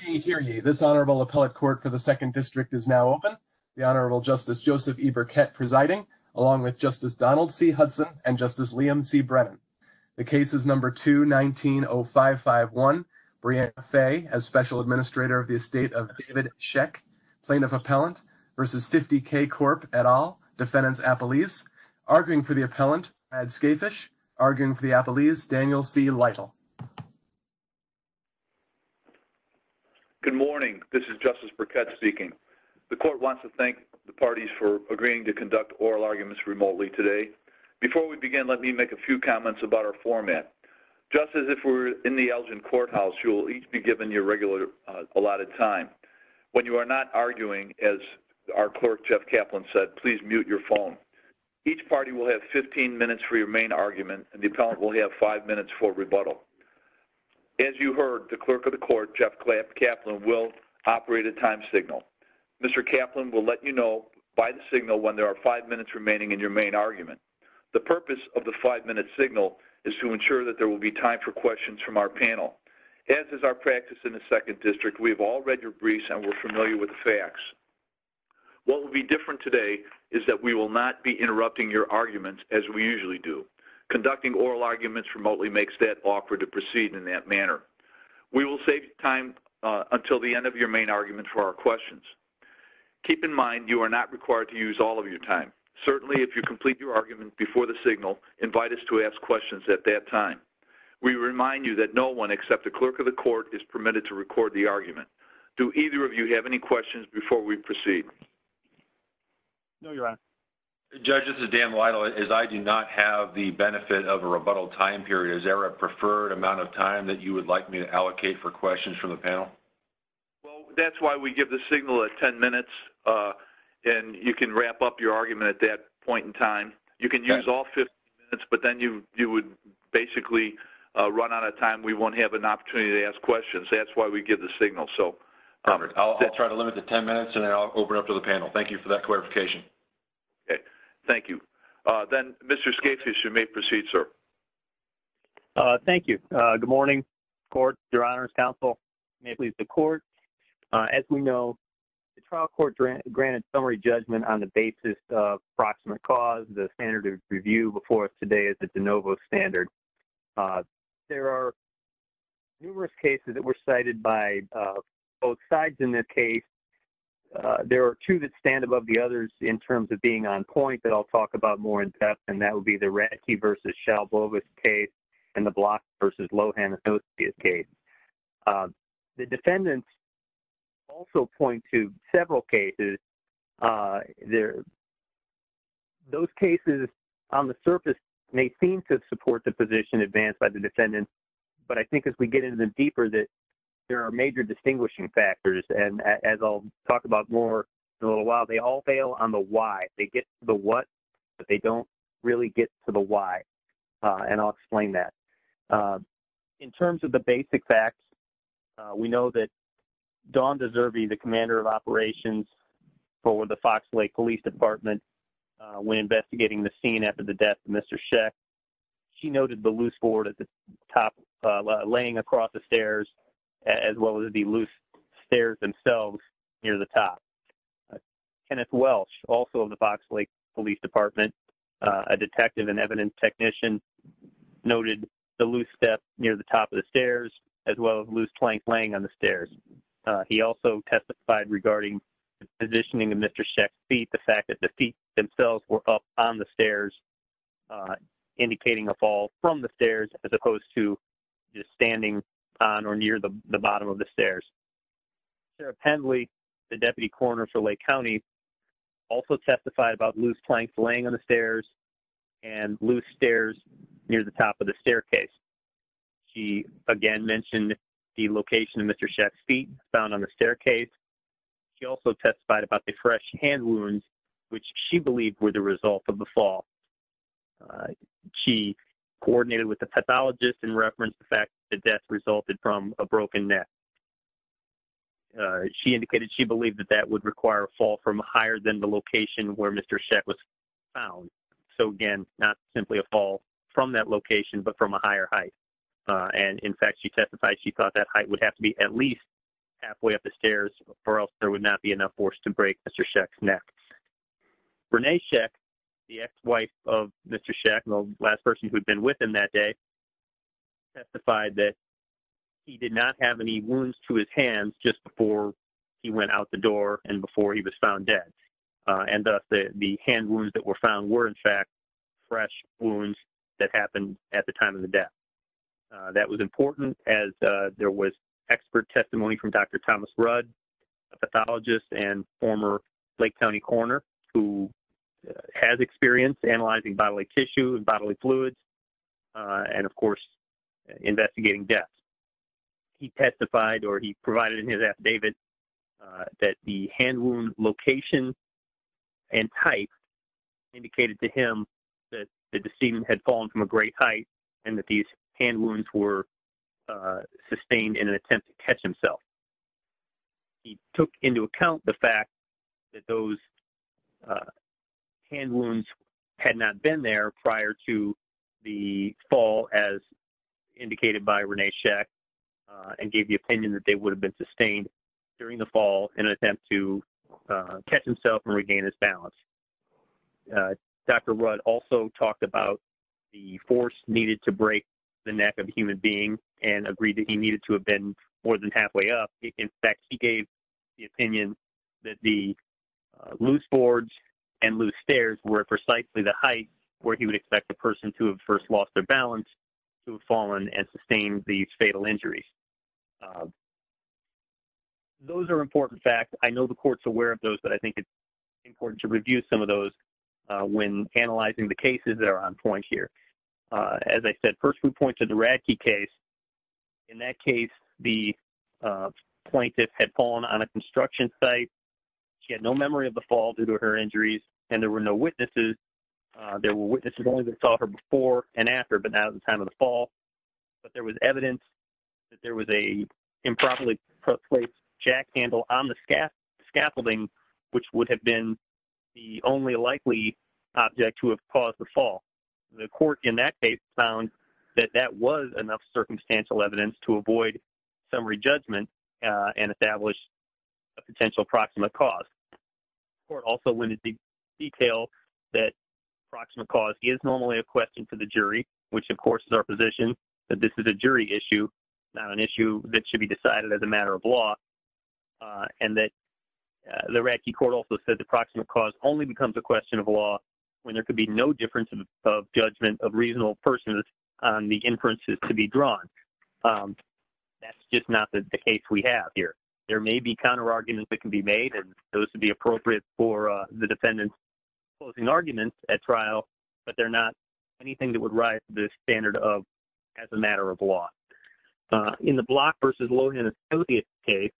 Hear ye, hear ye. This Honorable Appellate Court for the Second District is now open. The Honorable Justice Joseph E. Burkett presiding, along with Justice Donald C. Hudson and Justice Liam C. Brennan. The case is number 2-19-0551. Breanna Fay as Special Administrator of the Estate of David Sheck, Plaintiff Appellant, versus Fifty K Corp et al., Defendants Appellees. Arguing for the Appellant, Brad Skafish. Arguing for the Appellees, Daniel C. Lytle. Good morning. This is Justice Burkett speaking. The Court wants to thank the parties for agreeing to conduct oral arguments remotely today. Before we begin, let me make a few comments about our format. Just as if we were in the Elgin Courthouse, you will each be given your regular allotted time. When you are not arguing, as our Clerk Jeff Kaplan said, please mute your phone. Each party will have 15 minutes for your main argument and the Appellant will have 5 minutes for rebuttal. As you heard, the Clerk of the Court, Jeff Kaplan, will operate a time signal. Mr. Kaplan will let you know by the signal when there are 5 minutes remaining in your main argument. The purpose of the 5-minute signal is to ensure that there will be time for questions from our panel. As is our practice in the Second District, we have all read your briefs and we are familiar with the facts. What will be different today is that we will not be interrupting your arguments as we usually do. Conducting oral arguments remotely makes that awkward to proceed in that manner. We will save time until the end of your main argument for our questions. Keep in mind you are not required to use all of your time. Certainly, if you complete your argument before the signal, invite us to ask questions at that time. We remind you that no one except the Clerk of the Court is permitted to record the argument. Do either of you have any questions before we proceed? No, Your Honor. Judge, this is Dan Lytle. As I do not have the benefit of a rebuttal time period, is there a preferred amount of time that you would like me to allocate for questions from the panel? Well, that's why we give the signal at 10 minutes and you can wrap up your argument at that point in time. You can use all 15 minutes, but then you would basically run out of time. We won't have an opportunity to ask questions. That's why we give the signal. I'll try to limit it to 10 minutes and then I'll open it up to the panel. Thank you for that clarification. Thank you. Then, Mr. Scapes, you may proceed, sir. Thank you. Good morning, Court, Your Honor, Counsel, may it please the Court. As we know, the trial court granted summary judgment on the basis of proximate cause. The standard of review before us today is the de novo standard. There are numerous cases that were cited by both sides in this case. There are two that stand above the others in terms of being on point that I'll talk about more in depth, and that would be the Radke v. Shalbovitz case and the Blocks v. Lohan-Anostia case. The defendants also point to several cases. Those cases on the surface may seem to support the position advanced by the defendants, but I think as we get into them deeper that there are major distinguishing factors, and as I'll talk about more in a little while, they all fail on the why. They get to the what, but they don't really get to the why, and I'll explain that. In terms of the basic facts, we know that Dawnda Zerbe, the commander of operations for the Fox Lake Police Department, when investigating the scene after the death of Mr. Sheck, she noted the loose board at the top laying across the stairs, as well as the loose stairs themselves near the top. Kenneth Welch, also of the Fox Lake Police Department, a detective and evidence technician, noted the loose step near the top of the stairs, as well as loose planks laying on the stairs. He also testified regarding the positioning of Mr. Sheck's feet, the fact that the feet themselves were up on the stairs, indicating a fall from the stairs, as opposed to just standing on or near the bottom of the stairs. Sarah Pendley, the deputy coroner for Lake County, also testified about loose planks laying on the stairs and loose stairs near the top of the staircase. She, again, mentioned the location of Mr. Sheck's feet found on the staircase. She also testified about the fresh hand wounds, which she believed were the result of the fall. She coordinated with the pathologist and referenced the fact that the death resulted from a broken neck. She indicated she believed that that would require a fall from higher than the location where Mr. Sheck was found. So, again, not simply a fall from that location, but from a higher height. And, in fact, she testified she thought that height would have to be at least halfway up the stairs, or else there would not be enough force to break Mr. Sheck's neck. Renee Sheck, the ex-wife of Mr. Sheck, the last person who had been with him that day, testified that he did not have any wounds to his hands just before he went out the door and before he was found dead. And, thus, the hand wounds that were found were, in fact, fresh wounds that happened at the time of the death. That was important, as there was expert testimony from Dr. Thomas Rudd, a pathologist and former Lake County coroner, who has experience analyzing bodily tissue and bodily fluids. And, of course, investigating deaths. He testified, or he provided in his affidavit, that the hand wound location and type indicated to him that the decedent had fallen from a great height and that these hand wounds were sustained in an attempt to catch himself. He took into account the fact that those hand wounds had not been there prior to the fall, as indicated by Renee Sheck, and gave the opinion that they would have been sustained during the fall in an attempt to catch himself and regain his balance. Dr. Rudd also talked about the force needed to break the neck of a human being and agreed that he needed to have been more than halfway up. In fact, he gave the opinion that the loose boards and loose stairs were precisely the height where he would expect the person to have first lost their balance to have fallen and sustained these fatal injuries. Those are important facts. I know the court's aware of those, but I think it's important to review some of those when analyzing the cases that are on point here. As I said, first we point to the Radke case. In that case, the plaintiff had fallen on a construction site. She had no memory of the fall due to her injuries, and there were no witnesses. There were witnesses only that saw her before and after, but not at the time of the fall. But there was evidence that there was an improperly placed jack handle on the scaffolding, which would have been the only likely object to have caused the fall. The court in that case found that that was enough circumstantial evidence to avoid summary judgment and establish a potential proximate cause. The court also went into detail that proximate cause is normally a question for the jury, which, of course, is our position, that this is a jury issue, not an issue that should be decided as a matter of law, and that the Radke court also said that proximate cause only becomes a question of law when there could be no difference of judgment of reasonable persons on the inferences to be drawn. That's just not the case we have here. There may be counterarguments that can be made, and those would be appropriate for the defendant's closing arguments at trial, but they're not anything that would rise to the standard of as a matter of law. In the Block v. Lohan Associates case,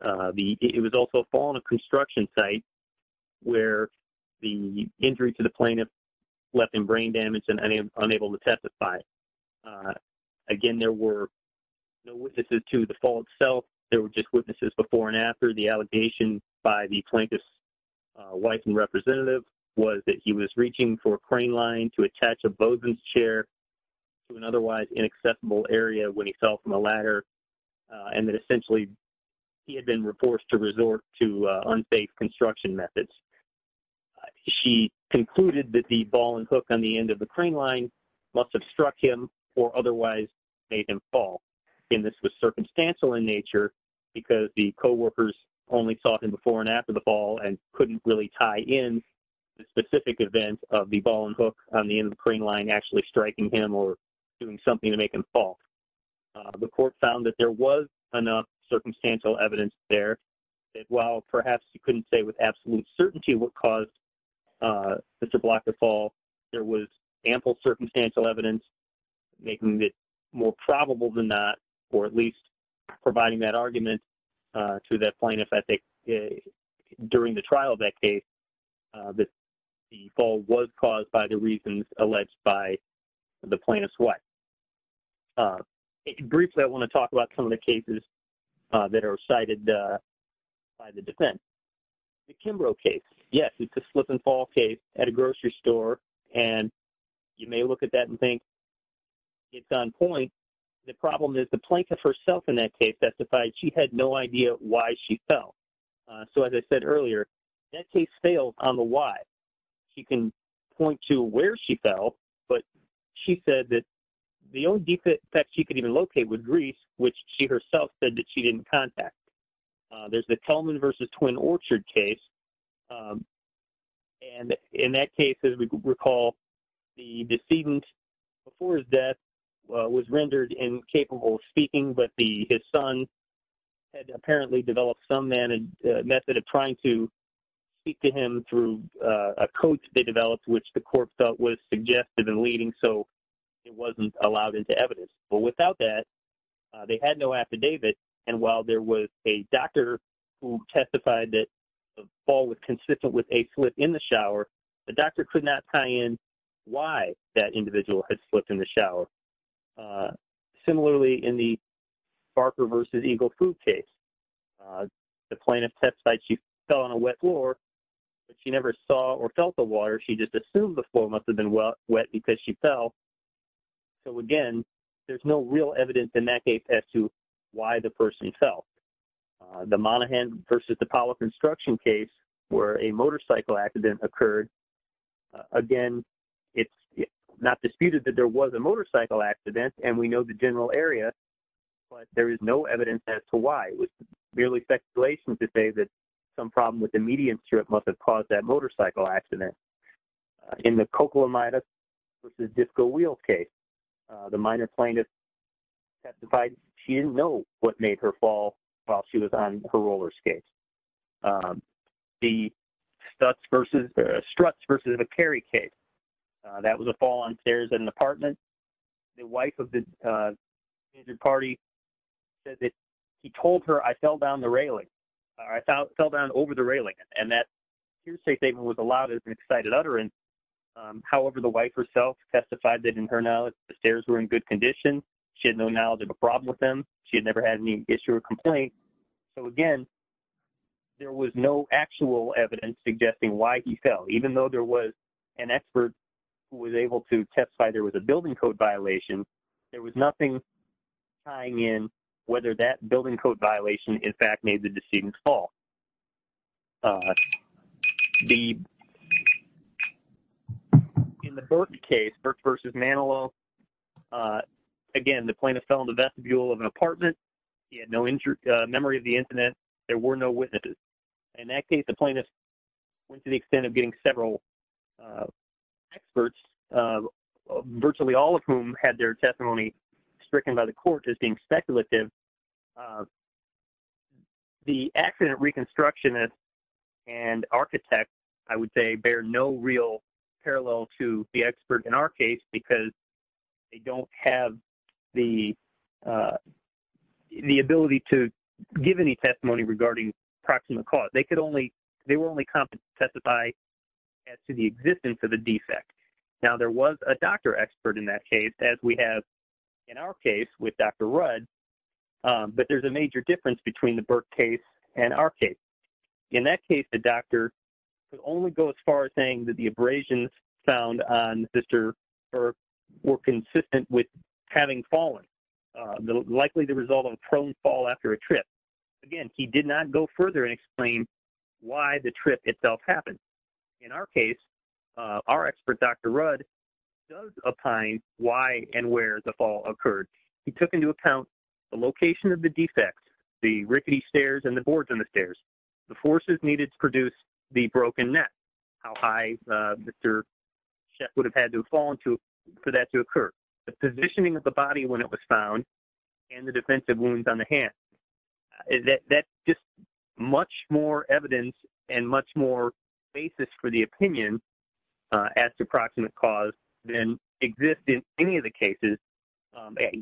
it was also a fall on a construction site where the injury to the plaintiff left him brain damaged and unable to testify. Again, there were no witnesses to the fall itself. There were just witnesses before and after. The allegation by the plaintiff's wife and representative was that he was reaching for a crane line to attach a bosun's chair to an otherwise inacceptable area when he fell from a ladder and that essentially he had been forced to resort to unfaithful construction methods. She concluded that the ball and hook on the end of the crane line must have struck him or otherwise made him fall. Again, this was circumstantial in nature because the coworkers only saw him before and after the fall and couldn't really tie in the specific event of the ball and hook on the end of the crane line actually striking him or doing something to make him fall. The court found that there was enough circumstantial evidence there that while perhaps you couldn't say with absolute certainty what caused Mr. Block to fall, there was ample circumstantial evidence making it more probable than that or at least providing that argument to that plaintiff that during the trial of that case, the fall was caused by the reasons alleged by the plaintiff's wife. Briefly, I want to talk about some of the cases that are cited by the defense. The Kimbrough case, yes, it's a slip and fall case at a grocery store and you may look at that and think it's on point. The problem is the plaintiff herself in that case testified she had no idea why she fell. As I said earlier, that case failed on the why. She can point to where she fell, but she said that the only defense she could even locate was Greece, which she herself said that she didn't contact. There's the Kelman v. Twin Orchard case and in that case, as we recall, the decedent before his death was rendered incapable of speaking, but his son had apparently developed some method of trying to speak to him through a code they developed which the court felt was suggestive and leading, so it wasn't allowed into evidence. Without that, they had no affidavit, and while there was a doctor who testified that the fall was consistent with a slip in the shower, the doctor could not tie in why that individual had slipped in the shower. Similarly, in the Barker v. Eagle food case, the plaintiff testified she fell on a wet floor, but she never saw or felt the water. She just assumed the floor must have been wet because she fell, so again, there's no real evidence in that case as to why the person fell. The Monaghan v. The Pollock Instruction case where a motorcycle accident occurred, again, it's not disputed that there was a motorcycle accident and we know the general area, but there is no evidence as to why. It was merely speculation to say that some problem with the median strip must have caused that motorcycle accident. In the Coquilamidas v. Disco Wheels case, the minor plaintiff testified she didn't know what made her fall while she was on her roller skates. The Strutz v. McCary case, that was a fall on stairs in an apartment. The wife of the injured party said that he told her, I fell down the railing, or I fell down over the railing, and that hearsay statement was allowed as an excited utterance. However, the wife herself testified that in her knowledge, the stairs were in good condition. She had no knowledge of the problem with them. She had never had any issue or complaint. So again, there was no actual evidence suggesting why he fell. Even though there was an expert who was able to testify there was a building code violation, there was nothing tying in whether that building code violation, in fact, made the decedent fall. In the Burke case, Burke v. Manilow, again, the plaintiff fell on the vestibule of an apartment. He had no memory of the incident. There were no witnesses. In that case, the plaintiff went to the extent of getting several experts, virtually all of whom had their testimony stricken by the court as being speculative. The accident reconstructionist and architect, I would say, bear no real parallel to the expert in our case because they don't have the ability to give any testimony regarding proximate cause. They were only competent to testify as to the existence of a defect. Now, there was a doctor expert in that case, as we have in our case with Dr. Rudd, but there's a major difference between the Burke case and our case. In that case, the doctor could only go as far as saying that the abrasions found on Sister Burke were consistent with having fallen, likely the result of a prone fall after a trip. Again, he did not go further and explain why the trip itself happened. In our case, our expert, Dr. Rudd, does opine why and where the fall occurred. He took into account the location of the defects, the rickety stairs and the boards on the stairs, the forces needed to produce the broken net, how high Mr. Sheff would have had to have fallen for that to occur, the positioning of the body when it was found, and the defensive wounds on the hand. That's just much more evidence and much more basis for the opinion as to proximate cause than exists in any of the cases,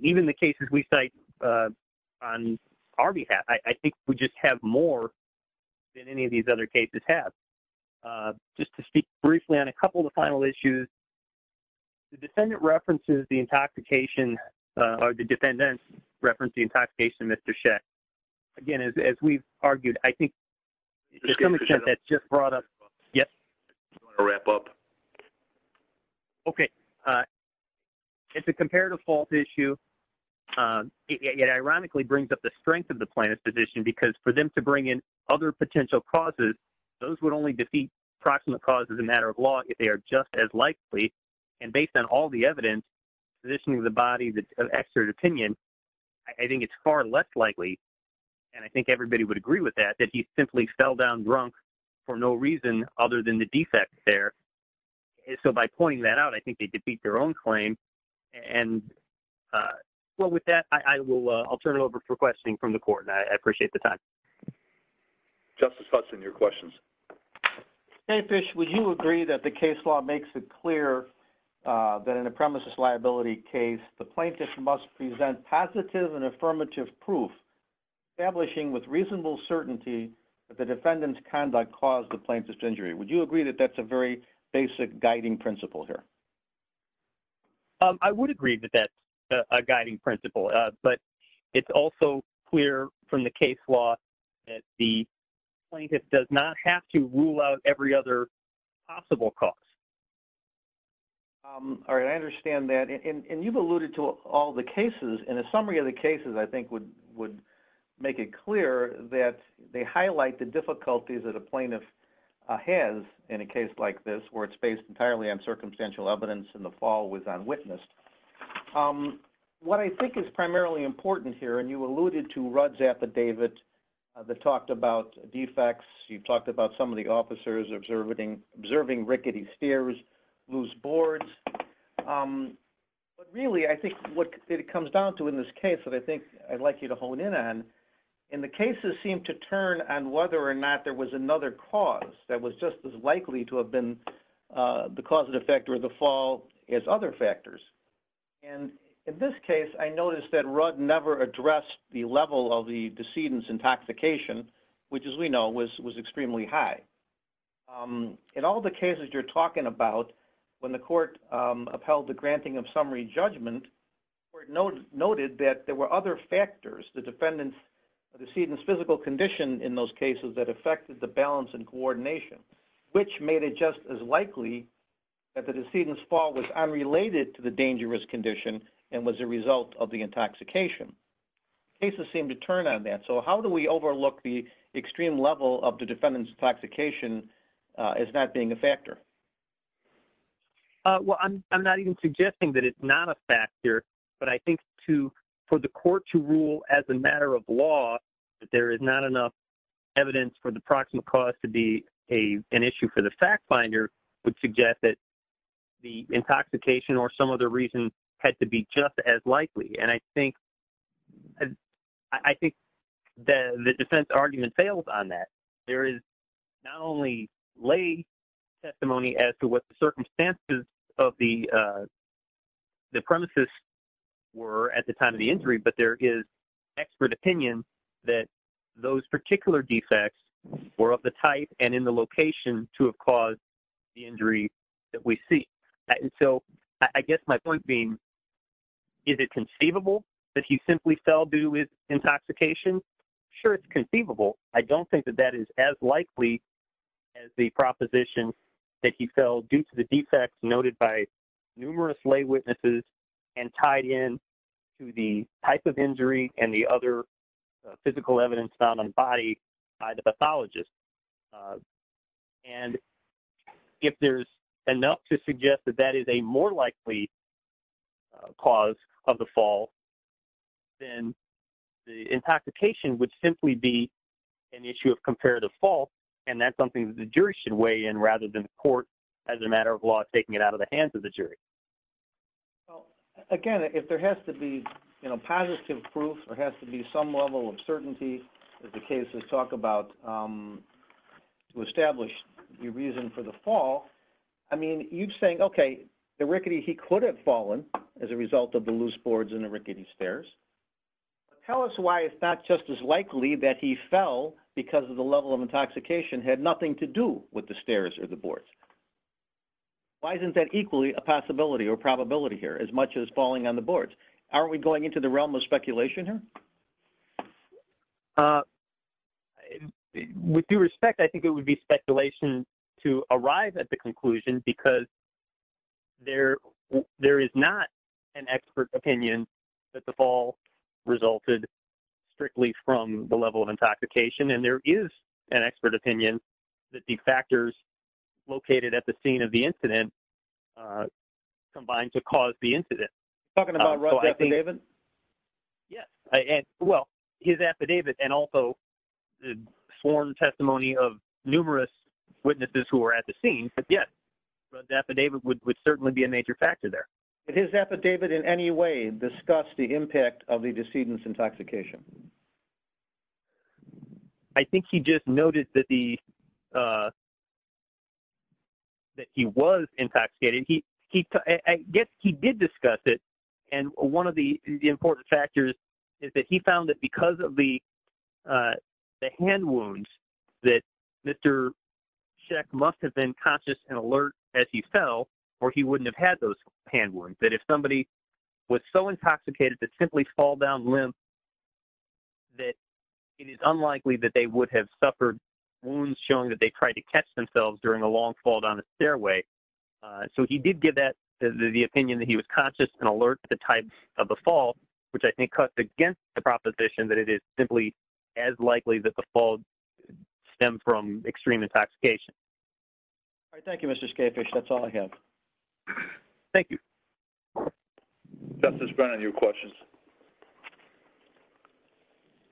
even the cases we cite on our behalf. I think we just have more than any of these other cases have. Just to speak briefly on a couple of the final issues, the defendant references the intoxication, the defendant referenced the intoxication, Mr. Sheff. Again, as we've argued, I think there's some extent that's just brought up. Yes? I'll wrap up. Okay. It's a comparative fault issue. It ironically brings up the strength of the plaintiff's position because for them to bring in other potential causes, those would only defeat proximate cause as a matter of law if they are just as likely. And based on all the evidence, the positioning of the body, the expert opinion, I think it's far less likely. And I think everybody would agree with that, that he simply fell down drunk for no reason other than the defect there. So by pointing that out, I think they could beat their own claim. And well, with that, I'll turn it over for questioning from the court. And I appreciate the time. Justice Hudson, your questions. Hey, fish. Would you agree that the case law makes it clear that in a premises liability case, the plaintiff must present positive and affirmative proof establishing with reasonable certainty that the defendant's conduct caused the plaintiff's injury. Would you agree that that's a very basic guiding principle here? I would agree that that's a guiding principle, but it's also clear from the case law that the plaintiff does not have to rule out every other possible costs. All right. I understand that. And you've alluded to all the cases. And a summary of the cases, I think would, would make it clear that they highlight the difficulties that a plaintiff has in a case like this, where it's based entirely on circumstantial evidence in the fall was unwitnessed. What I think is primarily important here, and you alluded to Rudd's affidavit that talked about defects. You've talked about some of the officers observing, observing rickety steers, lose boards. But really I think what it comes down to in this case that I think I'd like you to hone in on in the cases seem to turn on whether or not there was another cause that was just as likely to have been the causative factor of the factors. And in this case, I noticed that Rudd never addressed the level of the decedent's intoxication, which as we know was, was extremely high. And all the cases you're talking about when the court upheld the granting of summary judgment, where it noted that there were other factors, the defendant's or the decedent's physical condition in those cases that affected the balance and coordination, which made it just as likely that the decedent's fall was unrelated to the dangerous condition and was a result of the intoxication. Cases seem to turn on that. So how do we overlook the extreme level of the defendant's intoxication as not being a factor? Well, I'm, I'm not even suggesting that it's not a factor, but I think to for the court to rule as a matter of law, that there is not enough evidence for the proximate cause to be a, an issue for the fact finder would suggest that the intoxication or some other reason had to be just as likely. And I think, I think that the defense argument fails on that. There is not only lay testimony as to what the circumstances of the, the premises were at the time of the injury, but there is expert opinion that those particular defects were of the type and in the location to have caused the injury that we see. So I guess my point being, is it conceivable that he simply fell due to his intoxication? Sure. It's conceivable. I don't think that that is as likely as the proposition that he fell due to the defects noted by numerous lay witnesses and tied in to the type of injury that the other physical evidence found on body by the pathologist. And if there's enough to suggest that that is a more likely cause of the fall, then the intoxication would simply be an issue of comparative fault. And that's something that the jury should weigh in rather than the court as a matter of law, taking it out of the hands of the jury. Well, again, if there has to be, you know, positive proof or has to be some level of certainty as the case, let's talk about who established the reason for the fall. I mean, you'd saying, okay, the rickety he could have fallen as a result of the loose boards and the rickety stairs. Tell us why it's not just as likely that he fell because of the level of intoxication had nothing to do with the stairs or the boards. Why isn't that equally a possibility or probability here as much as falling on the boards? Aren't we going into the realm of speculation here? With due respect, I think it would be speculation to arrive at the conclusion because there, there is not an expert opinion that the fall resulted strictly from the level of intoxication. And there is an expert opinion that the factors located at the scene of the incident, uh, combined to cause the incident. Yes. I, and well, his affidavit, and also the sworn testimony of numerous witnesses who were at the scene. But yes, the affidavit would, would certainly be a major factor there. His affidavit in any way, discuss the impact of the decedent's intoxication. I think he just noted that the, uh, that he was intoxicated. He, he, I guess he did discuss it. And one of the important factors is that he found that because of the, uh, the hand wounds that Mr. Sheck must have been conscious and alert as he fell, or he wouldn't have had those hand wounds. That if somebody was so intoxicated to simply fall down limp, that it is unlikely that they would have suffered wounds showing that they tried to catch themselves during a long fall down the stairway. Uh, so he did give that the, the opinion that he was conscious and alert to the type of the fall, which I think cuts against the proposition that it is simply as likely that the fall stem from extreme intoxication. All right. Thank you, Mr. Scapefish. That's all I have. Thank you. Justice Brennan, your questions.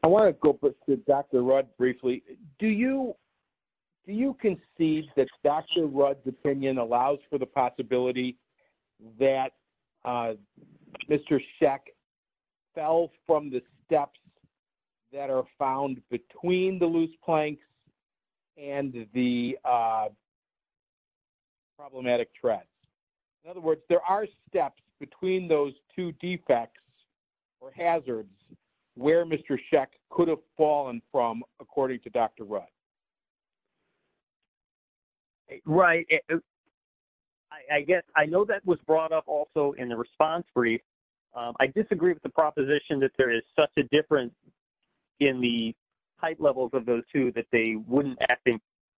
I want to go to Dr. Rudd briefly. Do you, do you conceive that Dr. Rudd's opinion allows for the possibility that, uh, Mr. Sheck fell from the steps that are found between the loose planks and if there are steps between those two defects or hazards where Mr. Sheck could have fallen from according to Dr. Rudd? Right. I guess I know that was brought up also in the response brief. Um, I disagree with the proposition that there is such a difference in the height levels of those two that they wouldn't act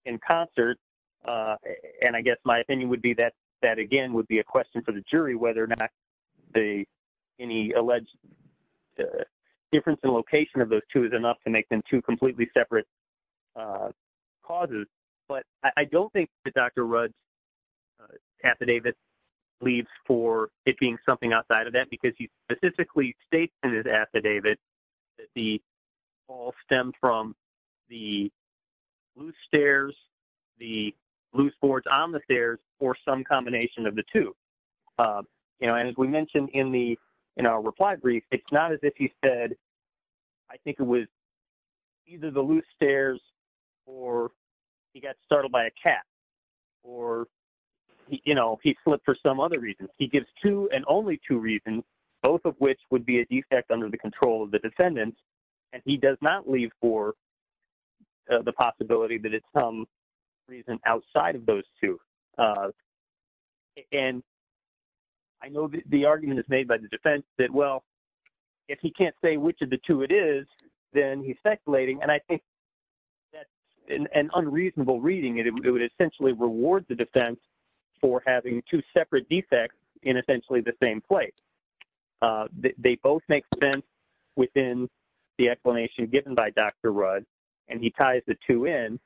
in concert. Uh, and I guess my opinion would be that that again would be a question for the jury, whether or not the, any alleged difference in location of those two is enough to make them two completely separate, uh, causes. But I don't think that Dr. Rudd's affidavit leaves for it being something outside of that, because he specifically states in his affidavit that the fall stemmed from the loose stairs, the loose boards on the stairs, or some combination of the two. Um, you know, and as we mentioned in the, in our reply brief, it's not as if he said, I think it was either the loose stairs, or he got startled by a cat or he, you know, he slipped for some other reasons. He gives two and only two reasons, both of which would be a defect under the control of the descendants. And he does not leave for the possibility that it's some reason outside of those two. Uh, and I know that the argument is made by the defense that, well, if he can't say which of the two it is, then he's speculating. And I think that's an unreasonable reading. It would essentially reward the defense for having two separate defects in essentially the same place. Uh, they both make sense within the explanation given by Dr. Rudd. And he ties the two in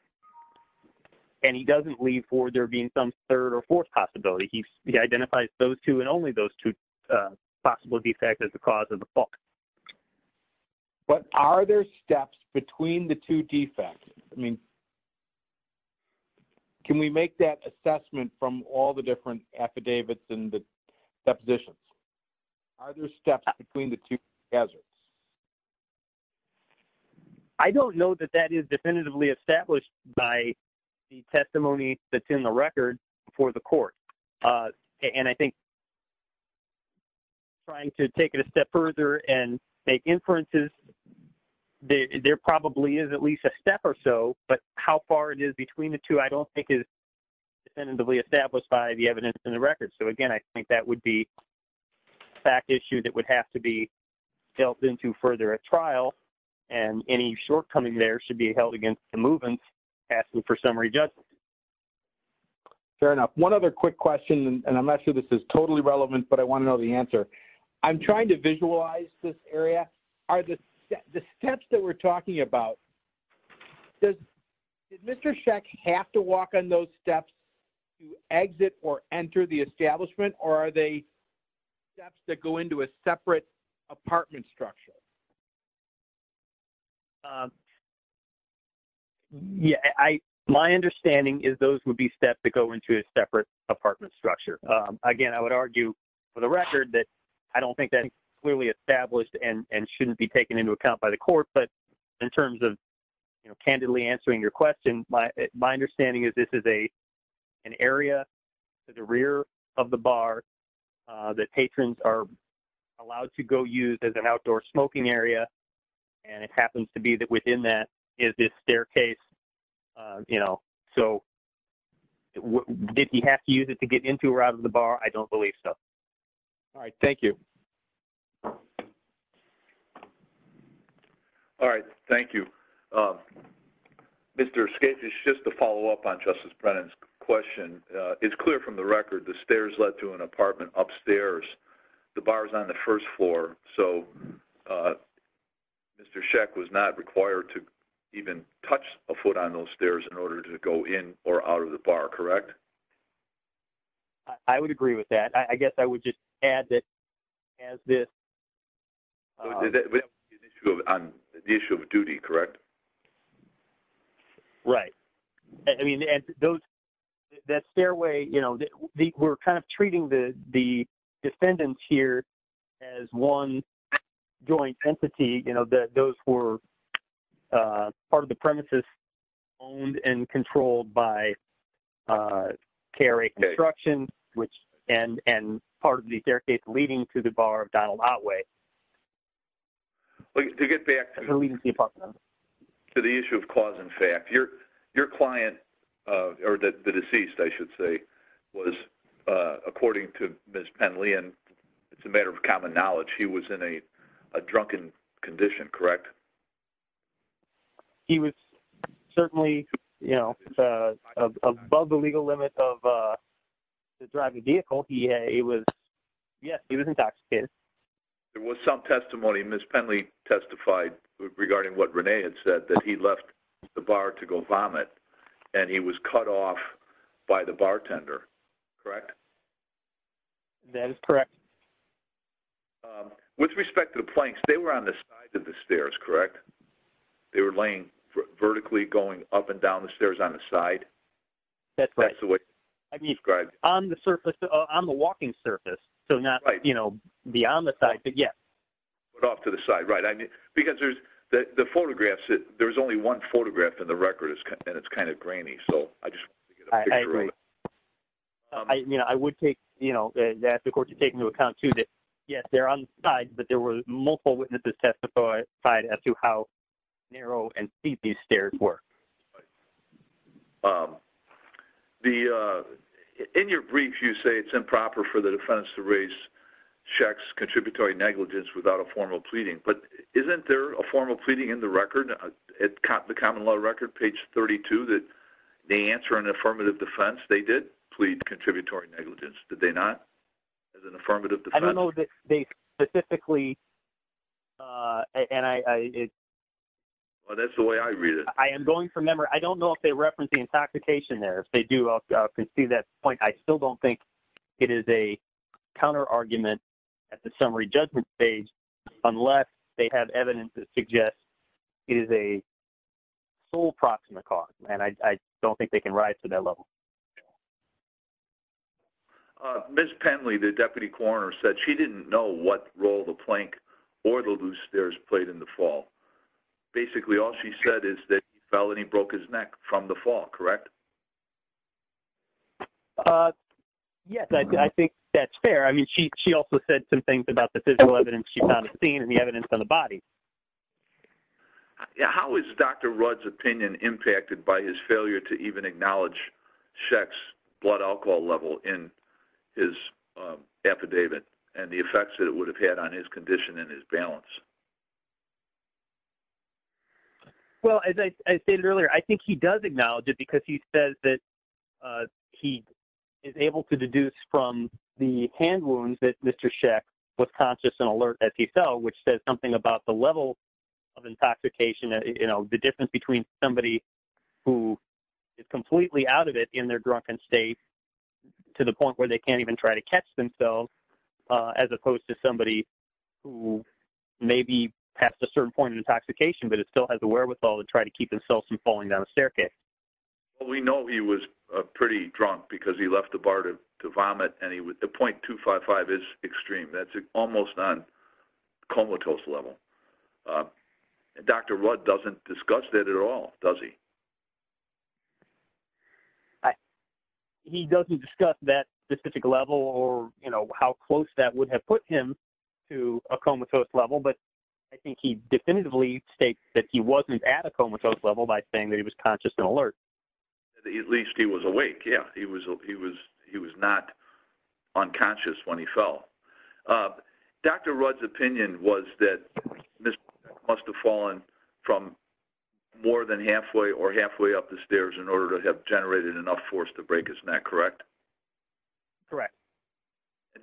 and he doesn't leave for there being some third or fourth possibility. He identifies those two and only those two, uh, possible defects as the cause of the fall. But are there steps between the two defects? I mean, can we make that assessment from all the different affidavits and the depositions? Are there steps between the two hazards? I don't know that that is definitively established by the testimony that's in the record for the court. Uh, and I think trying to take it a step further and make inferences, there probably is at least a step or so, but how far it is between the two, I don't think is definitively established by the evidence in the record. So again, I think that would be back issue. That would have to be dealt into further at trial and any shortcoming there should be held against the movement asking for summary judgment. Fair enough. One other quick question, and I'm not sure this is totally relevant, but I want to know the answer. I'm trying to visualize this area are the steps that we're talking about. Does Mr. Sheck have to walk on those steps to exit or enter the establishment or are they steps that go into a separate apartment structure? Yeah, I, my understanding is those would be steps that go into a separate apartment structure. Um, again, I would argue for the record that I don't think that clearly established and, and shouldn't be taken into account by the court, but in terms of candidly answering your question, my, my understanding is this is a, an area to the rear of the bar, uh, that patrons are allowed to go use as an outdoor smoking area. And it happens to be that within that is this staircase, uh, you know, so did he have to use it to get into or out of the bar? I don't believe so. All right. Thank you. Um, Mr. Scapes is just to follow up on justice Brennan's question. Uh, it's clear from the record, the stairs led to an apartment upstairs, the bars on the first floor. So, uh, Mr. Sheck was not required to even touch a foot on those stairs in order to go in or out of the bar. Correct. I would agree with that. I guess I would just add that as this, uh, the issue of duty, correct. Right. I mean, those that stairway, you know, the we're kind of treating the, the defendants here as one joint entity, you know, that those were, uh, part of the premises owned and controlled by, uh, carry construction, which, and, and part of the staircase leading to the bar of Donald outweigh. To get back to the issue of cause and effect your, your client, uh, or the deceased, I should say was, uh, according to Ms. Penley and it's a matter of common knowledge, he was in a, a drunken condition, correct? He was certainly, you know, uh, above the legal limit of, uh, the driving vehicle. He, uh, he was, yes, he was intoxicated. It was some testimony. Ms. Penley testified regarding what Renee had said that he left the bar to go vomit and he was cut off by the bartender. Correct. That is correct. With respect to the planks, they were on the side of the stairs, correct? They were laying vertically going up and down the stairs on the side. That's right. That's the way I described on the surface, on the walking surface. So not, you know, beyond the side, but yes. But off to the side. Right. I mean, because there's the, the photographs, there was only one photograph in the record and it's kind of grainy. So I just want to get a picture of it. I, you know, I would take, you know, that's, of course you're taking into account too, that yes, they're on the side, but there were multiple witnesses testified side as to how narrow and steep these stairs were. Um, the, uh, in your brief, you say it's improper for the defense to raise checks, contributory negligence without a formal pleading, but isn't there a formal pleading in the record at the common law record, page 32, that they answer an affirmative defense. They did plead contributory negligence. Did they not as an affirmative? I don't know that they specifically, uh, and I, I, it. Well, that's the way I read it. I am going from member. I don't know if they referenced the intoxication there. If they do, I'll concede that point. I still don't think it is a counter argument at the summary judgment page, unless they have evidence that suggests it is a sole proximate cause. And I don't think they can rise to that level. Uh, Ms. Penley, the deputy coroner said she didn't know what role the plank or little blue stairs played in the fall. Basically all she said is that felony broke his neck from the fall, correct? Uh, yes, I think that's fair. I mean, she, she also said some things about the physical evidence she found a scene and the evidence on the body. Yeah. How is Dr. Rudd's opinion impacted by his failure to even acknowledge sex blood alcohol level in his, uh, affidavit and the effects that it would have had on his condition and his balance? Well, as I stated earlier, I think he does acknowledge it because he says that, uh, he is able to deduce from the hand wounds that Mr. Sheck was conscious and alert as he fell, which says something about the level of intoxication, you know, the difference between somebody who is completely out of it in their drunken state to the point where they can't even try to catch themselves, uh, as opposed to somebody who may be past a certain point of intoxication, but it still has a wherewithal to try to keep themselves from falling down a staircase. Well, we know he was pretty drunk because he left the bar to vomit and he would, the 0.255 is extreme. That's almost non comatose level. Uh, Dr. Rudd doesn't discuss that at all, does he? I, he doesn't discuss that specific level or, you know, how close that would have put him to a comatose level, but I think he definitively states that he wasn't at a comatose level by saying that he was conscious and alert. At least he was awake. Yeah, he was, he was, he was not unconscious when he fell. Uh, Dr. Rudd's opinion was that Mr. Must've fallen from more than halfway or halfway up the stairs in order to have generated enough force to break his neck, correct? Correct.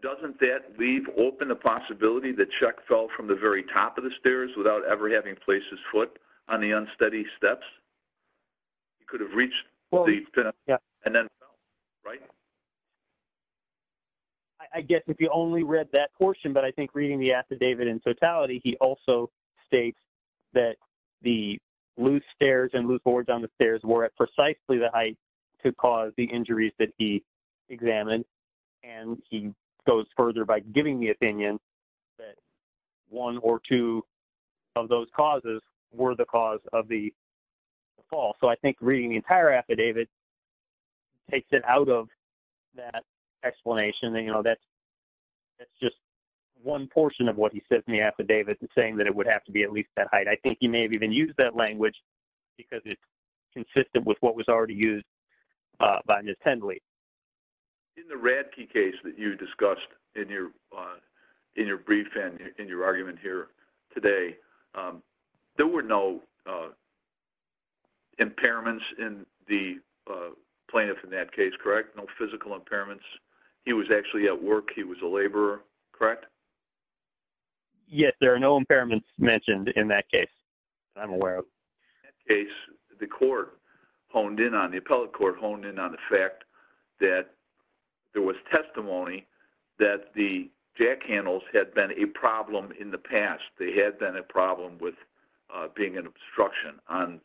Doesn't that leave open the possibility that Chuck fell from the very top of the stairs without ever having placed his foot on the unsteady steps? He could have reached the finish and then right. I guess if you only read that portion, but I think reading the affidavit in particular states that the loose stairs and loose boards on the stairs were at precisely the height to cause the injuries that he examined. And he goes further by giving the opinion that one or two of those causes were the cause of the fall. So I think reading the entire affidavit takes it out of that explanation. And, you know, that's, that's just one portion of what he says in the affidavit and saying that it would have to be at least that height. I think he may have even used that language because it's consistent with what was already used by Ms. Hendley. In the Radke case that you discussed in your, uh, in your brief, and in your argument here today, um, there were no, uh, impairments in the, uh, plaintiff in that case, correct? No physical impairments. He was actually at work. He was a laborer, correct? Yes. There are no impairments mentioned in that case. I'm aware of. The court honed in on, the appellate court honed in on the fact that there was testimony that the jack handles had been a problem in the past. They had been a problem with being an obstruction on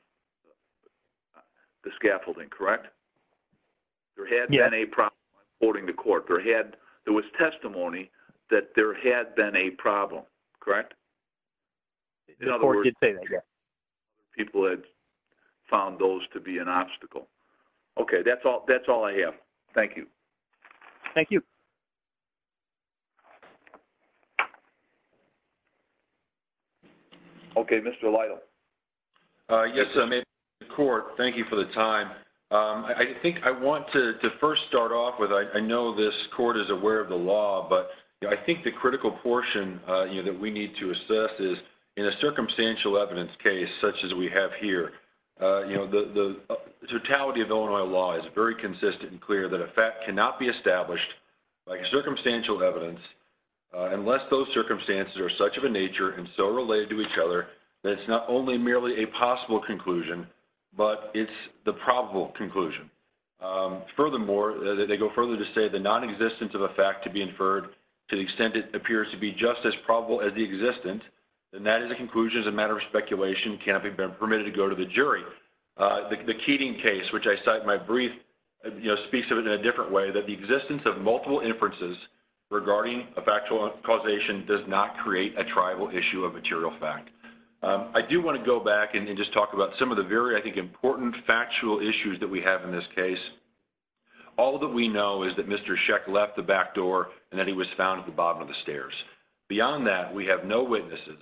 the scaffolding, correct? There had been a problem. According to court, there had, there was testimony that there had been a problem, correct? In other words, people had found those to be an obstacle. Okay. That's all. That's all I have. Thank you. Thank you. Okay. Mr. Lytle. Uh, yes, I'm in court. Thank you for the time. I think I want to first start off with, I know this court is aware of the law, but I think the critical portion, uh, you know, that we need to assess is in a circumstantial evidence case, such as we have here, uh, you know, the, the totality of Illinois law is very consistent and clear that a fact cannot be established like circumstantial evidence, unless those circumstances are such of a nature and so related to each other, that it's not only merely a possible conclusion, but it's the probable conclusion. Um, furthermore, they go further to say the non-existence of a fact to be inferred to the extent it appears to be just as probable as the existence. And that is a conclusion as a matter of speculation can be permitted to go to the jury. Uh, the Keating case, which I cite my brief, you know, speaks of it in a different way that the existence of multiple inferences regarding a factual causation does not create a tribal issue of material fact. Um, I do want to go back and just talk about some of the very, I think important factual issues that we have in this case. All that we know is that Mr. Sheck left the back door and that he was found at the bottom of the stairs. Beyond that, we have no witnesses,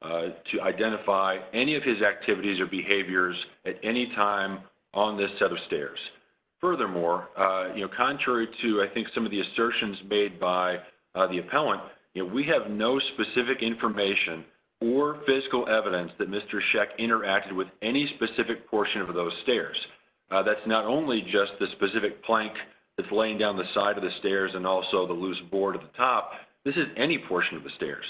uh, to identify any of his activities or behaviors at any time on this set of stairs. Furthermore, uh, you know, contrary to I think some of the assertions made by the appellant, you know, we have no specific information or physical evidence that Mr. Sheck interacted with any specific portion of those stairs. Uh, that's not only just the specific plank that's laying down the side of the stairs and also the loose board at the top. This is any portion of the stairs.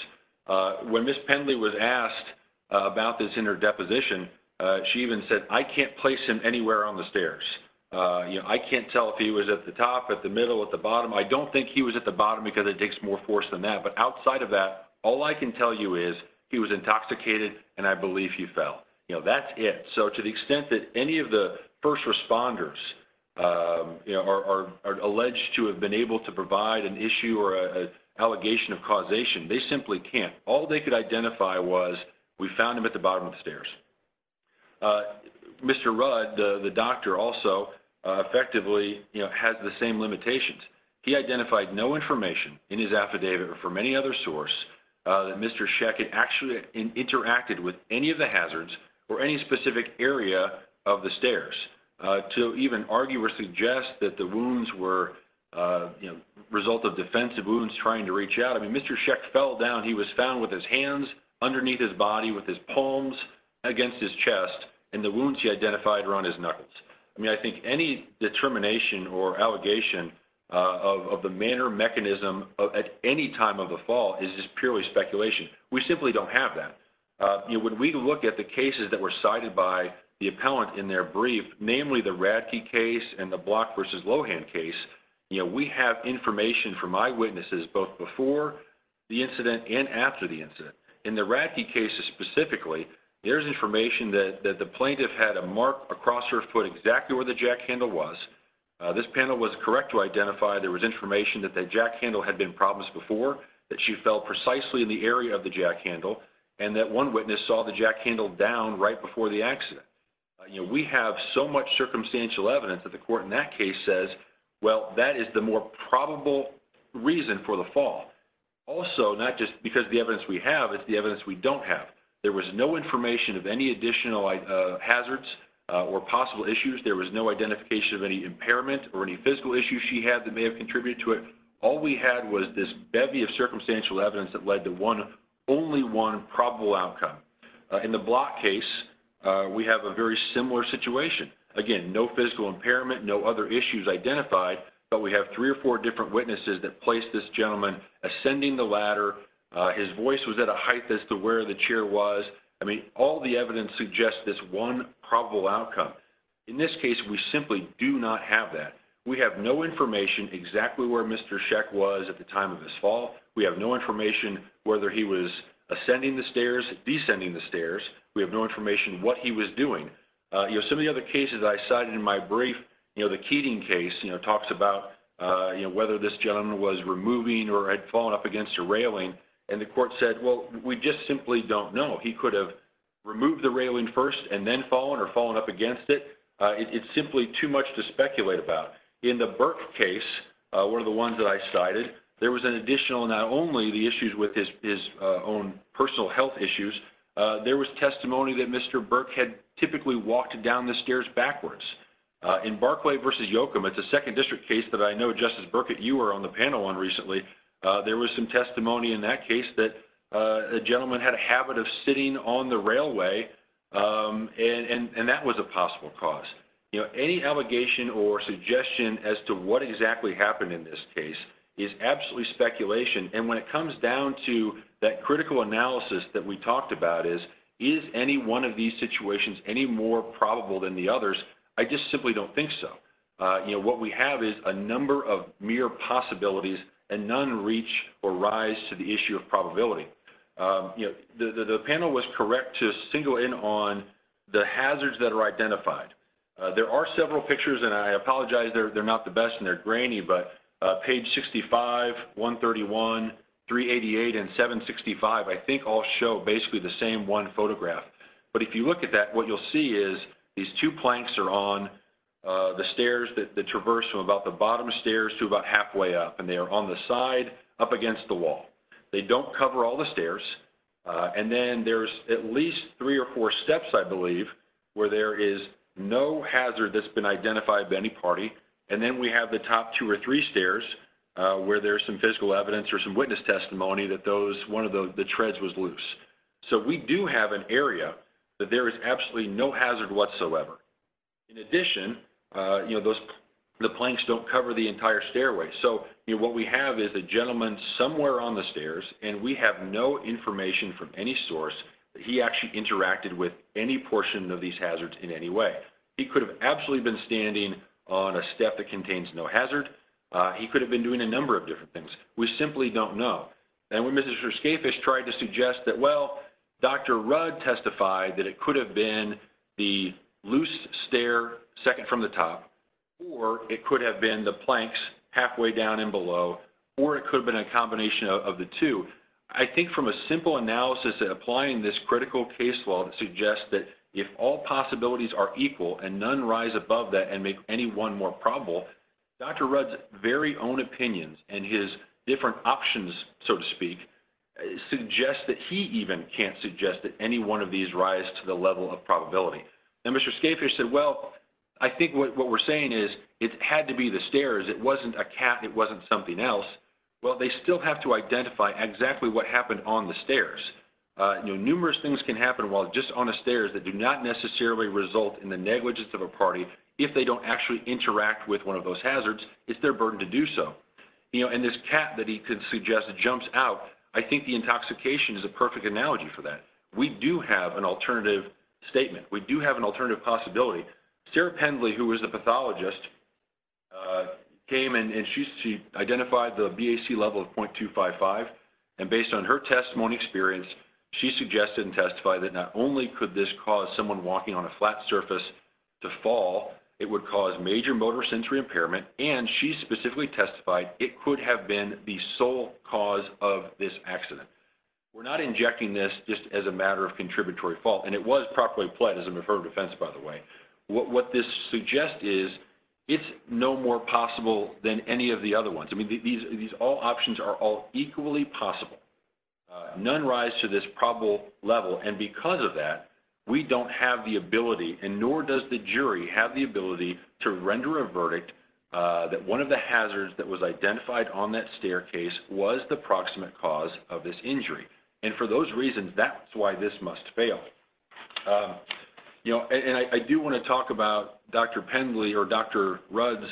Uh, when Ms. Pendley was asked about this in her deposition, uh, she even said, I can't place him anywhere on the stairs. Uh, you know, I can't tell if he was at the top, at the middle, at the bottom. I don't think he was at the bottom because it takes more force than that. But outside of that, all I can tell you is he was intoxicated and I believe he fell, you know, that's it. So to the extent that any of the first responders, um, you know, are alleged to have been able to provide an issue or a allegation of causation, they simply can't. All they could identify was we found him at the bottom of the stairs. Uh, Mr. Rudd, the doctor also, uh, effectively, you know, has the same limitations. He identified no information in his affidavit or from any other source, uh, that Mr. Sheck had actually interacted with any of the hazards or any specific area of the stairs, uh, to even argue or suggest that the wounds were, uh, you know, result of defensive wounds trying to reach out. I mean, Mr. Sheck fell down. He was found with his hands underneath his body, with his palms against his chest and the wounds he identified were on his knuckles. I mean, I think any determination or allegation, uh, of the manner mechanism at any time of the fall is just purely speculation. We simply don't have that. Uh, you know, when we look at the cases that were cited by the appellant in their brief, namely the Radke case and the Block versus Lohan case, you know, we have information from eyewitnesses, both before the incident and after the incident in the Radke cases. Specifically, there's information that the plaintiff had a mark across her foot exactly where the jack handle was. Uh, this panel was correct to identify there was information that the jack handle had been problems before, that she fell precisely in the area of the jack handle and that one witness saw the jack handle down right before the accident. Uh, you know, we have so much circumstantial evidence that the court in that case says, well, that is the more probable reason for the fall. Also, not just because of the evidence we have, it's the evidence we don't have. There was no information of any additional, uh, hazards, uh, or possible issues. There was no identification of any impairment or any physical issues she had that may have contributed to it. All we had was this bevy of circumstantial evidence that led to one, only one probable outcome. Uh, in the Block case, uh, we have a very similar situation. Again, no physical impairment, no other issues identified, but we have three or four different witnesses that placed this gentleman ascending the ladder. Uh, his voice was at a height as to where the chair was. I mean, all the evidence suggests this one probable outcome. In this case, we simply do not have that. We have no information exactly where Mr. Sheck was at the time of this fall. We have no information whether he was ascending the stairs, descending the stairs. We have no information what he was doing. Uh, you know, some of the other cases I cited in my brief, you know, the Keating case, you know, talks about, uh, you know, whether this gentleman was removing or had fallen up against a railing and the court said, well, we just simply don't know. He could have removed the railing first and then fallen or fallen up against it. Uh, it's simply too much to speculate about. In the Burke case, uh, one of the ones that I cited, there was an additional, not only the issues with his, his, uh, own personal health issues. Uh, there was testimony that Mr. Burke had typically walked down the stairs backwards, uh, in Barclay versus Yocum. It's a second district case that I know Justice Burkett, you were on the panel on recently. Uh, there was some testimony in that case that, uh, the gentleman had a habit of sitting on the railway. Um, and, and, and that was a possible cause, you know, any allegation or suggestion as to what exactly happened in this case is absolutely speculation. And when it comes down to that critical analysis that we talked about is, is any one of these situations, any more probable than the others? I just simply don't think so. Uh, you know, what we have is a number of mere possibilities and none reach or rise to the uh, you know, the, the, the panel was correct to single in on the hazards that are identified. Uh, there are several pictures and I apologize. They're, they're not the best and they're grainy, but, uh, page 65, 131, 388, and 765, I think all show basically the same one photograph. But if you look at that, what you'll see is these two planks are on, uh, the stairs that the traverse from about the bottom of the stairs to about halfway up and they are on the side up against the wall. They don't cover all the stairs. Uh, and then there's at least three or four steps I believe where there is no hazard that's been identified by any party. And then we have the top two or three stairs, uh, where there's some physical evidence or some witness testimony that those, one of the treads was loose. So we do have an area that there is absolutely no hazard whatsoever. In addition, uh, you know, those, the planks don't cover the entire stairway. So, you know, what we have is a gentleman somewhere on the stairs and we have no information from any source that he actually interacted with any portion of these hazards in any way. He could have absolutely been standing on a step that contains no hazard. Uh, he could have been doing a number of different things. We simply don't know. And when Mr. Skafish tried to suggest that, well, Dr. Rudd testified that it could have been the loose stair second from the top, or it could have been the planks halfway down and below, or it could have been a combination of the two. I think from a simple analysis that applying this critical case law that suggests that if all possibilities are equal and none rise above that and make any one more probable Dr. Rudd's very own opinions and his different options, so to speak, suggest that he even can't suggest that any one of these rise to the level of probability. Now, Mr. Skafish said, well, I think what we're saying is it had to be the stairs. It wasn't a cat. It wasn't something else. Well, they still have to identify exactly what happened on the stairs. Uh, numerous things can happen while just on a stairs that do not necessarily result in the negligence of a party. If they don't actually interact with one of those hazards, it's their burden to do so, you know, and this cat that he could suggest jumps out. I think the intoxication is a perfect analogy for that. We do have an alternative statement. We do have an alternative possibility. Sarah Pendley, who was a pathologist, uh, came in and she, she identified the BAC level of 0.255 and based on her testimony experience, she suggested and testified that not only could this cause someone walking on a flat surface to fall, it would cause major motor sensory impairment and she specifically testified it could have been the sole cause of this accident. We're not injecting this just as a matter of contributory fault and it was improperly played as a preferred defense. By the way, what, what this suggests is it's no more possible than any of the other ones. I mean, these, these all options are all equally possible. Uh, none rise to this probable level. And because of that, we don't have the ability and nor does the jury have the ability to render a verdict, uh, that one of the hazards that was identified on that staircase was the proximate cause of this injury. And for those reasons, that's why this must fail. Um, you know, and I, I do want to talk about Dr. Pendley or Dr. Rudd's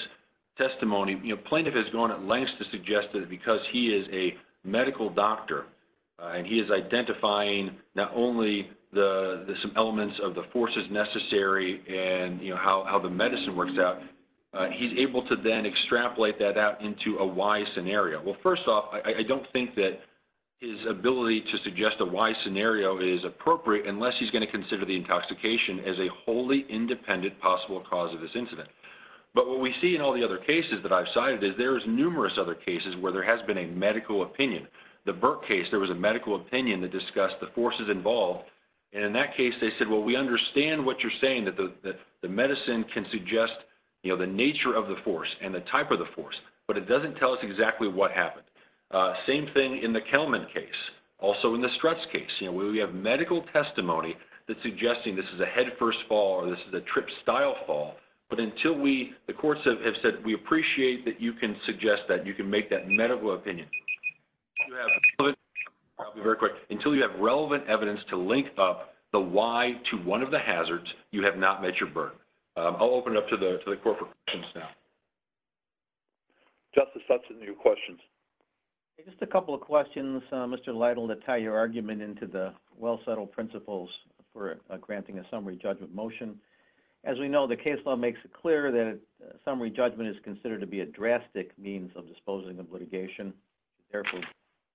testimony. You know, plaintiff has gone at lengths to suggest that because he is a medical doctor, uh, and he is identifying not only the, the, some elements of the forces necessary and, you know, how, how the medicine works out. Uh, he's able to then extrapolate that out into a Y scenario. Well, first off, I don't think that his ability to suggest a Y scenario is appropriate unless he's going to consider the intoxication as a wholly independent possible cause of this incident. But what we see in all the other cases that I've cited is there is numerous other cases where there has been a medical opinion, the Burke case, there was a medical opinion that discussed the forces involved. And in that case, they said, well, we understand what you're saying that the, that the medicine can suggest, you know, the nature of the force and the type of the force, but it doesn't tell us exactly what happened. Uh, same thing in the Kelman case, also in the stress case, you know, we, we have medical testimony that's suggesting this is a head first fall, or this is a trip style fall. But until we, the courts have said, we appreciate that you can suggest that you can make that medical opinion. Very quick until you have relevant evidence to link up the Y to one of the hazards. You have not met your birth. I'll open it up to the, to the corporate now. Justice, that's a new questions. Just a couple of questions. Mr. Lytle to tie your argument into the well-settled principles for granting a summary judgment motion. As we know, the case law makes it clear that summary judgment is considered to be a drastic means of disposing of litigation. Therefore,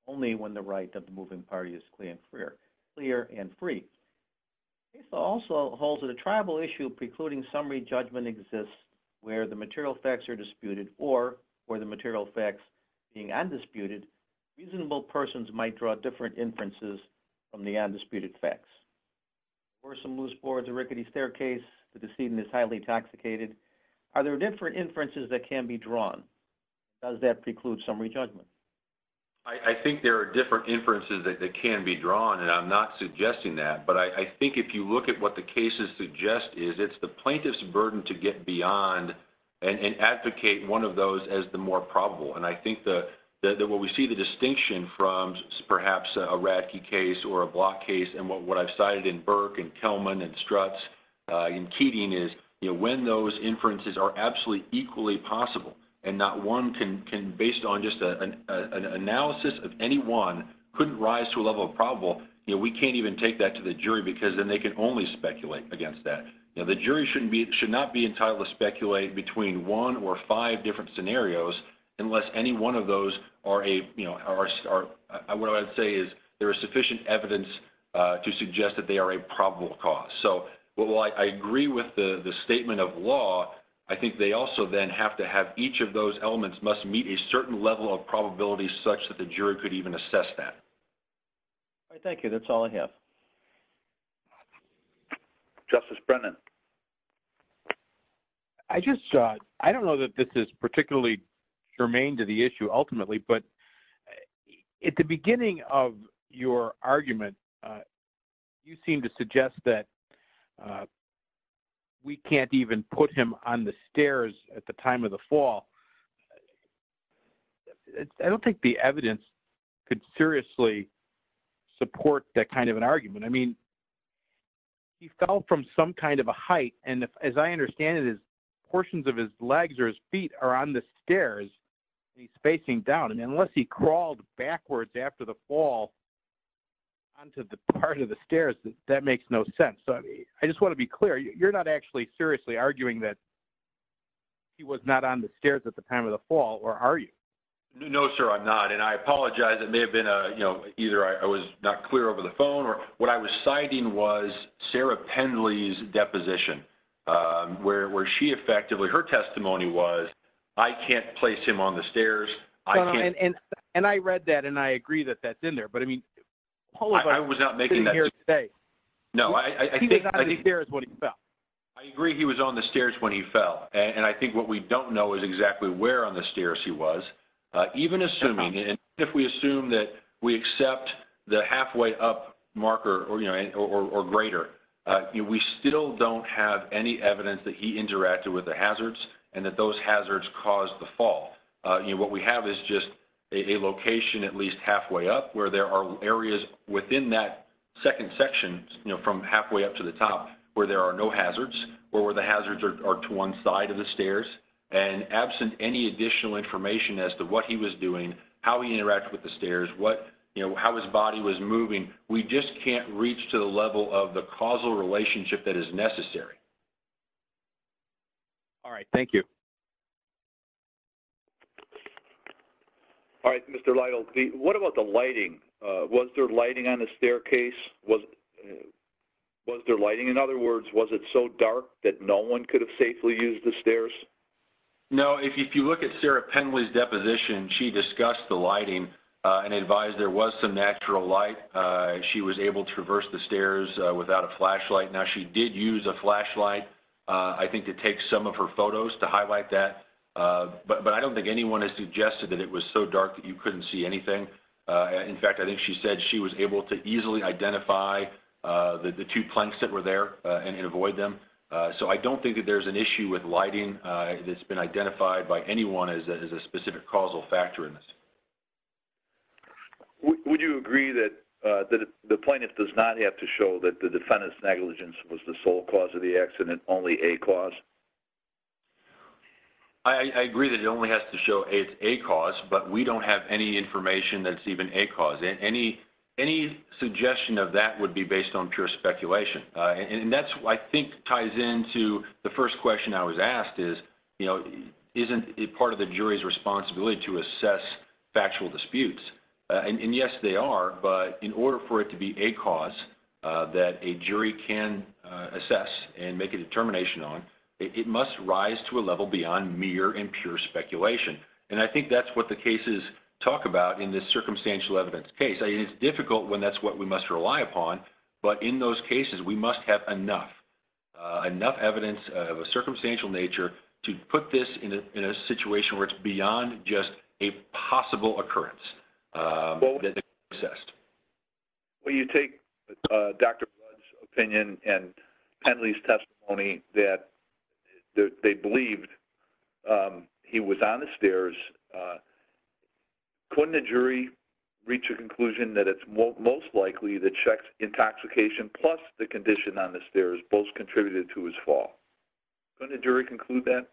only when the right of the moving party is clear, clear, clear, and free. Also holds it a tribal issue precluding summary judgment exists where the material facts are disputed or where the material facts being undisputed reasonable persons might draw different inferences from the undisputed facts or some loose boards, a rickety staircase. The decedent is highly intoxicated. Are there different inferences that can be drawn? Does that preclude summary judgment? I think there are different inferences that can be drawn and I'm not suggesting that, but I think if you look at what the cases suggest is it's the plaintiff's right to get beyond and advocate one of those as the more probable. And I think that what we see the distinction from perhaps a Radke case or a block case. And what I've cited in Burke and Kelman and struts in Keating is, you know, when those inferences are absolutely equally possible and not one can, can based on just an analysis of anyone couldn't rise to a level of probable, you know, we can't even take that to the jury because then they can only speculate against that. And the jury shouldn't be, it should not be entitled to speculate between one or five different scenarios unless any one of those are a, you know, our star, I would say is there is sufficient evidence to suggest that they are a probable cause. So while I agree with the statement of law, I think they also then have to have each of those elements must meet a certain level of probability such that the jury could even assess that. Thank you. That's all I have. Justice Brennan. I just, I don't know that this is particularly germane to the issue ultimately, but at the beginning of your argument, you seem to suggest that we can't even put him on the stairs at the time of the fall. I don't think the evidence could seriously support that kind of an argument. I mean, he fell from some kind of a height. And if, as I understand it is portions of his legs or his feet are on the stairs, he's facing down and unless he crawled backwards after the fall onto the part of the stairs, that makes no sense. So I just want to be clear. You're not actually seriously arguing that he was not on the stairs at the time of the fall, or are you? No, sir, I'm not. And I apologize. It may have been a, you know, either I was not clear over the phone or what I was citing was Sarah Pendley's deposition where, where she effectively, her testimony was, I can't place him on the stairs. And I read that and I agree that that's in there, but I mean, I was not making that today. No, I think there is what he felt. I agree. He was on the stairs when he fell. And I think what we don't know is exactly where on the stairs he was even assuming. And if we assume that we accept the halfway up marker or, you know, or greater, we still don't have any evidence that he interacted with the hazards and that those hazards caused the fall. You know, what we have is just a location, at least halfway up where there are areas within that second section, you know, from halfway up to the top where there are no hazards or where the hazards are to one side of the stairs and absent any additional information as to what he was doing, how he interacted with the stairs, what, you know, how his body was moving. We just can't reach to the level of the causal relationship that is necessary. All right. Thank you. All right, Mr. Lytle. What about the lighting? Was there lighting on the staircase? Was, was there lighting? In other words, was it so dark that no one could have safely used the stairs? No. If you look at Sarah Penway's deposition, she discussed the lighting and advised there was some natural light. She was able to reverse the stairs without a flashlight. Now she did use a flashlight. I think to take some of her photos to highlight that. But I don't think anyone has suggested that it was so dark that you couldn't see anything. In fact, I think she said she was able to easily identify the two planks that were there and avoid them. So I don't think that there's an issue with lighting. It's been identified by anyone as a specific causal factor in this. Would you agree that the plaintiff does not have to show that the defendant's negligence was the sole cause of the accident, only a cause? I agree that it only has to show it's a cause, but we don't have any information that's even a cause. Any, any suggestion of that would be based on pure speculation. And that's, I think ties into the first question I was asked is, you know, isn't it part of the jury's responsibility to assess factual disputes? And yes, they are, but in order for it to be a cause that a jury can assess and make a determination on, it must rise to a level beyond mere and pure speculation. And I think that's what the cases talk about in this circumstantial evidence case. It's difficult when that's what we must rely upon. But in those cases, we must have enough, enough evidence of a circumstantial nature to put this in a, in a situation where it's beyond just a possible occurrence. Well, you take Dr. Blood's opinion and Pendley's testimony that they believed he was on the stairs. Couldn't the jury reach a conclusion that it's most likely the checks intoxication, plus the condition on the stairs both contributed to his fall. Couldn't a jury conclude that?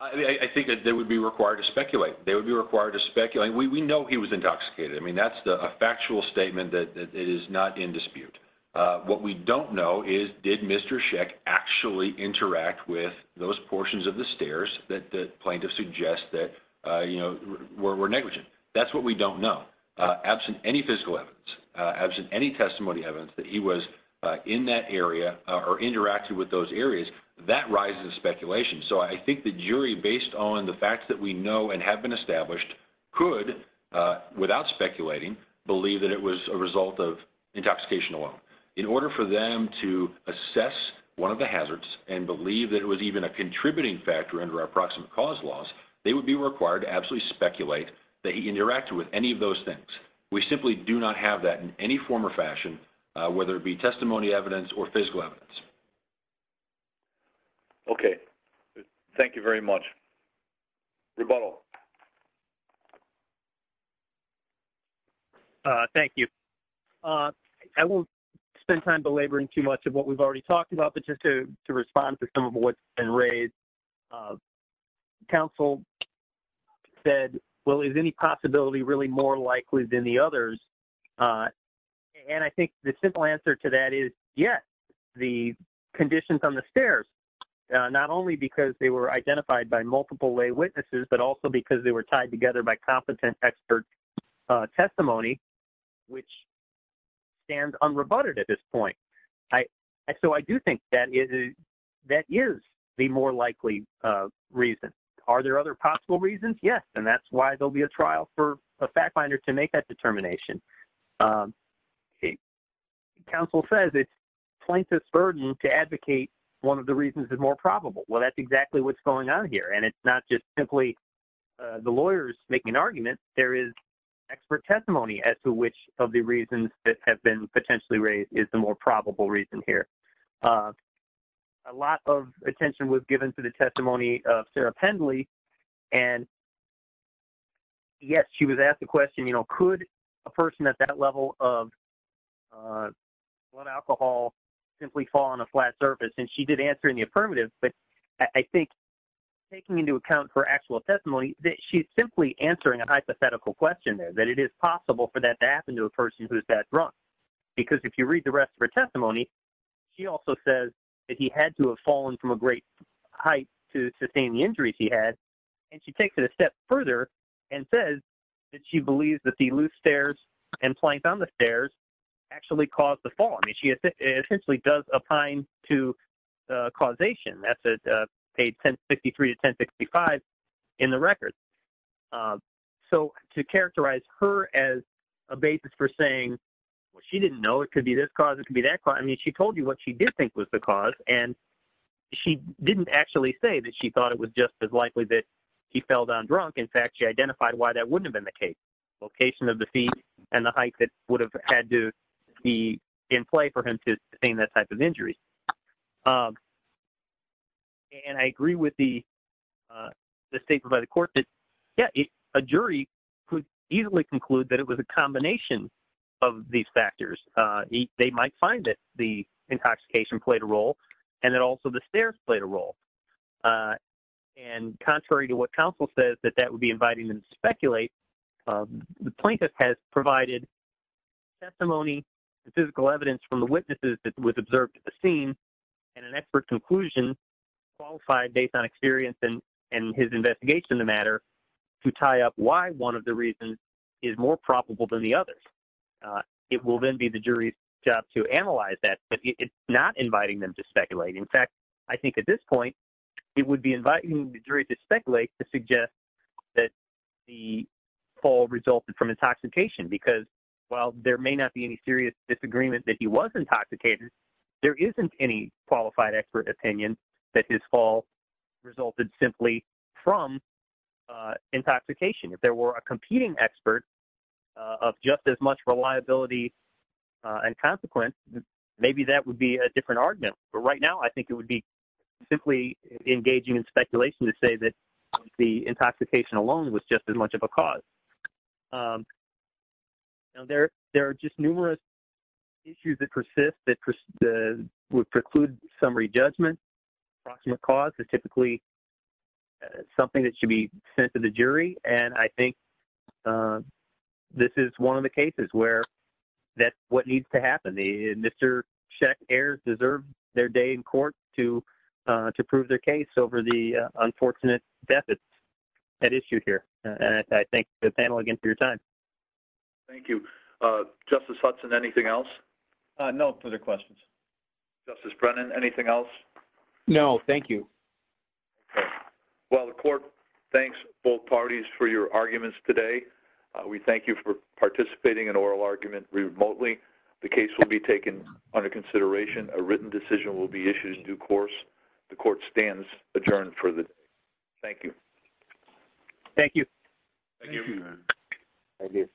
I think that they would be required to speculate. They would be required to speculate. We know he was intoxicated. I mean, that's the factual statement that it is not in dispute. What we don't know is did Mr. Sheck actually interact with those portions of the stairs that the plaintiff suggests that, you know, we're, That's what we don't know. Absent any physical evidence, absent any testimony evidence that he was in that area or interacted with those areas that rises speculation. So I think the jury, based on the facts that we know and have been established, could without speculating, believe that it was a result of intoxication alone in order for them to assess one of the hazards and believe that it was even a contributing factor under our approximate cause laws. They would be required to absolutely speculate that he interacted with any of those things. We simply do not have that in any form or fashion, whether it be testimony evidence or physical evidence. Okay. Thank you very much. Rebuttal. Thank you. I won't spend time belaboring too much of what we've already talked about, but just to, to respond to some of what's been raised. Council said, well, is any possibility really more likely than the others? And I think the simple answer to that is yes. The conditions on the stairs, not only because they were identified by multiple lay witnesses, but also because they were tied together by competent expert testimony, which stands unrebutted at this point. So I do think that is the more likely reason. Are there other possible reasons? Yes. And that's why there'll be a trial for a fact finder to make that determination. Okay. Council says it's plaintiff's burden to advocate. One of the reasons is more probable. Well, that's exactly what's going on here. And it's not just simply the lawyers making an argument. There is expert testimony as to which of the reasons that have been potentially raised is the more probable reason here. A lot of attention was given to the testimony of Sarah Pendley. And yes, she was asked the question, you know, could a person at that level of blood alcohol simply fall on a flat surface? And she did answer in the affirmative, but I think taking into account for actual testimony that she's simply answering a hypothetical question there, that it is possible for that to happen to a person who's that drunk. Because if you read the rest of her testimony, she also says that he had to have fallen from a great height to sustain the event. And she takes it a step further and says that she believes that the loose stairs and planks on the stairs actually caused the fall. I mean, she essentially does a pine to causation. That's a paid 1053 to 1065 in the record. So to characterize her as a basis for saying, well, she didn't know, it could be this cause it can be that crime. I mean, she told you what she did think was the cause. And she didn't actually say that she thought it was just as likely that he fell down drunk. In fact, she identified why that wouldn't have been the case location of the feet and the height that would have had to be in play for him to sustain that type of injury. And I agree with the, the state provided court that yeah, a jury could easily conclude that it was a combination of these factors. They might find that the intoxication played a role and that also the stairs played a role. And contrary to what council says, that that would be inviting them to speculate. The plaintiff has provided testimony, the physical evidence from the witnesses that was observed at the scene and an expert conclusion qualified based on experience and, and his investigation, the matter to tie up why one of the reasons is more probable than the others. It will then be the jury's job to analyze that, but it's not inviting them to speculate. In fact, I think at this point it would be inviting the jury to speculate, to suggest that the fall resulted from intoxication because while there may not be any serious disagreement that he was intoxicated, there isn't any qualified expert opinion that his fall resulted simply from intoxication. If there were a competing expert of just as much reliability and consequence, maybe that would be a different argument. But right now, I think it would be simply engaging in speculation to say that the intoxication alone was just as much of a cause. There are just numerous issues that persist that would preclude summary judgment. Cause is typically something that should be sent to the jury. And I think this is one of the cases where that's what needs to happen. The Mr. Sheck heirs deserve their day in court to, to prove their case over the unfortunate death at issue here. And I thank the panel again for your time. Thank you. Justice Hudson, anything else? No further questions. Justice Brennan, anything else? No. Thank you. Well, the court thanks both parties for your arguments today. We thank you for participating in oral argument remotely. The case will be taken under consideration. A written decision will be issued in due course. The court stands adjourned for the day. Thank you. Thank you.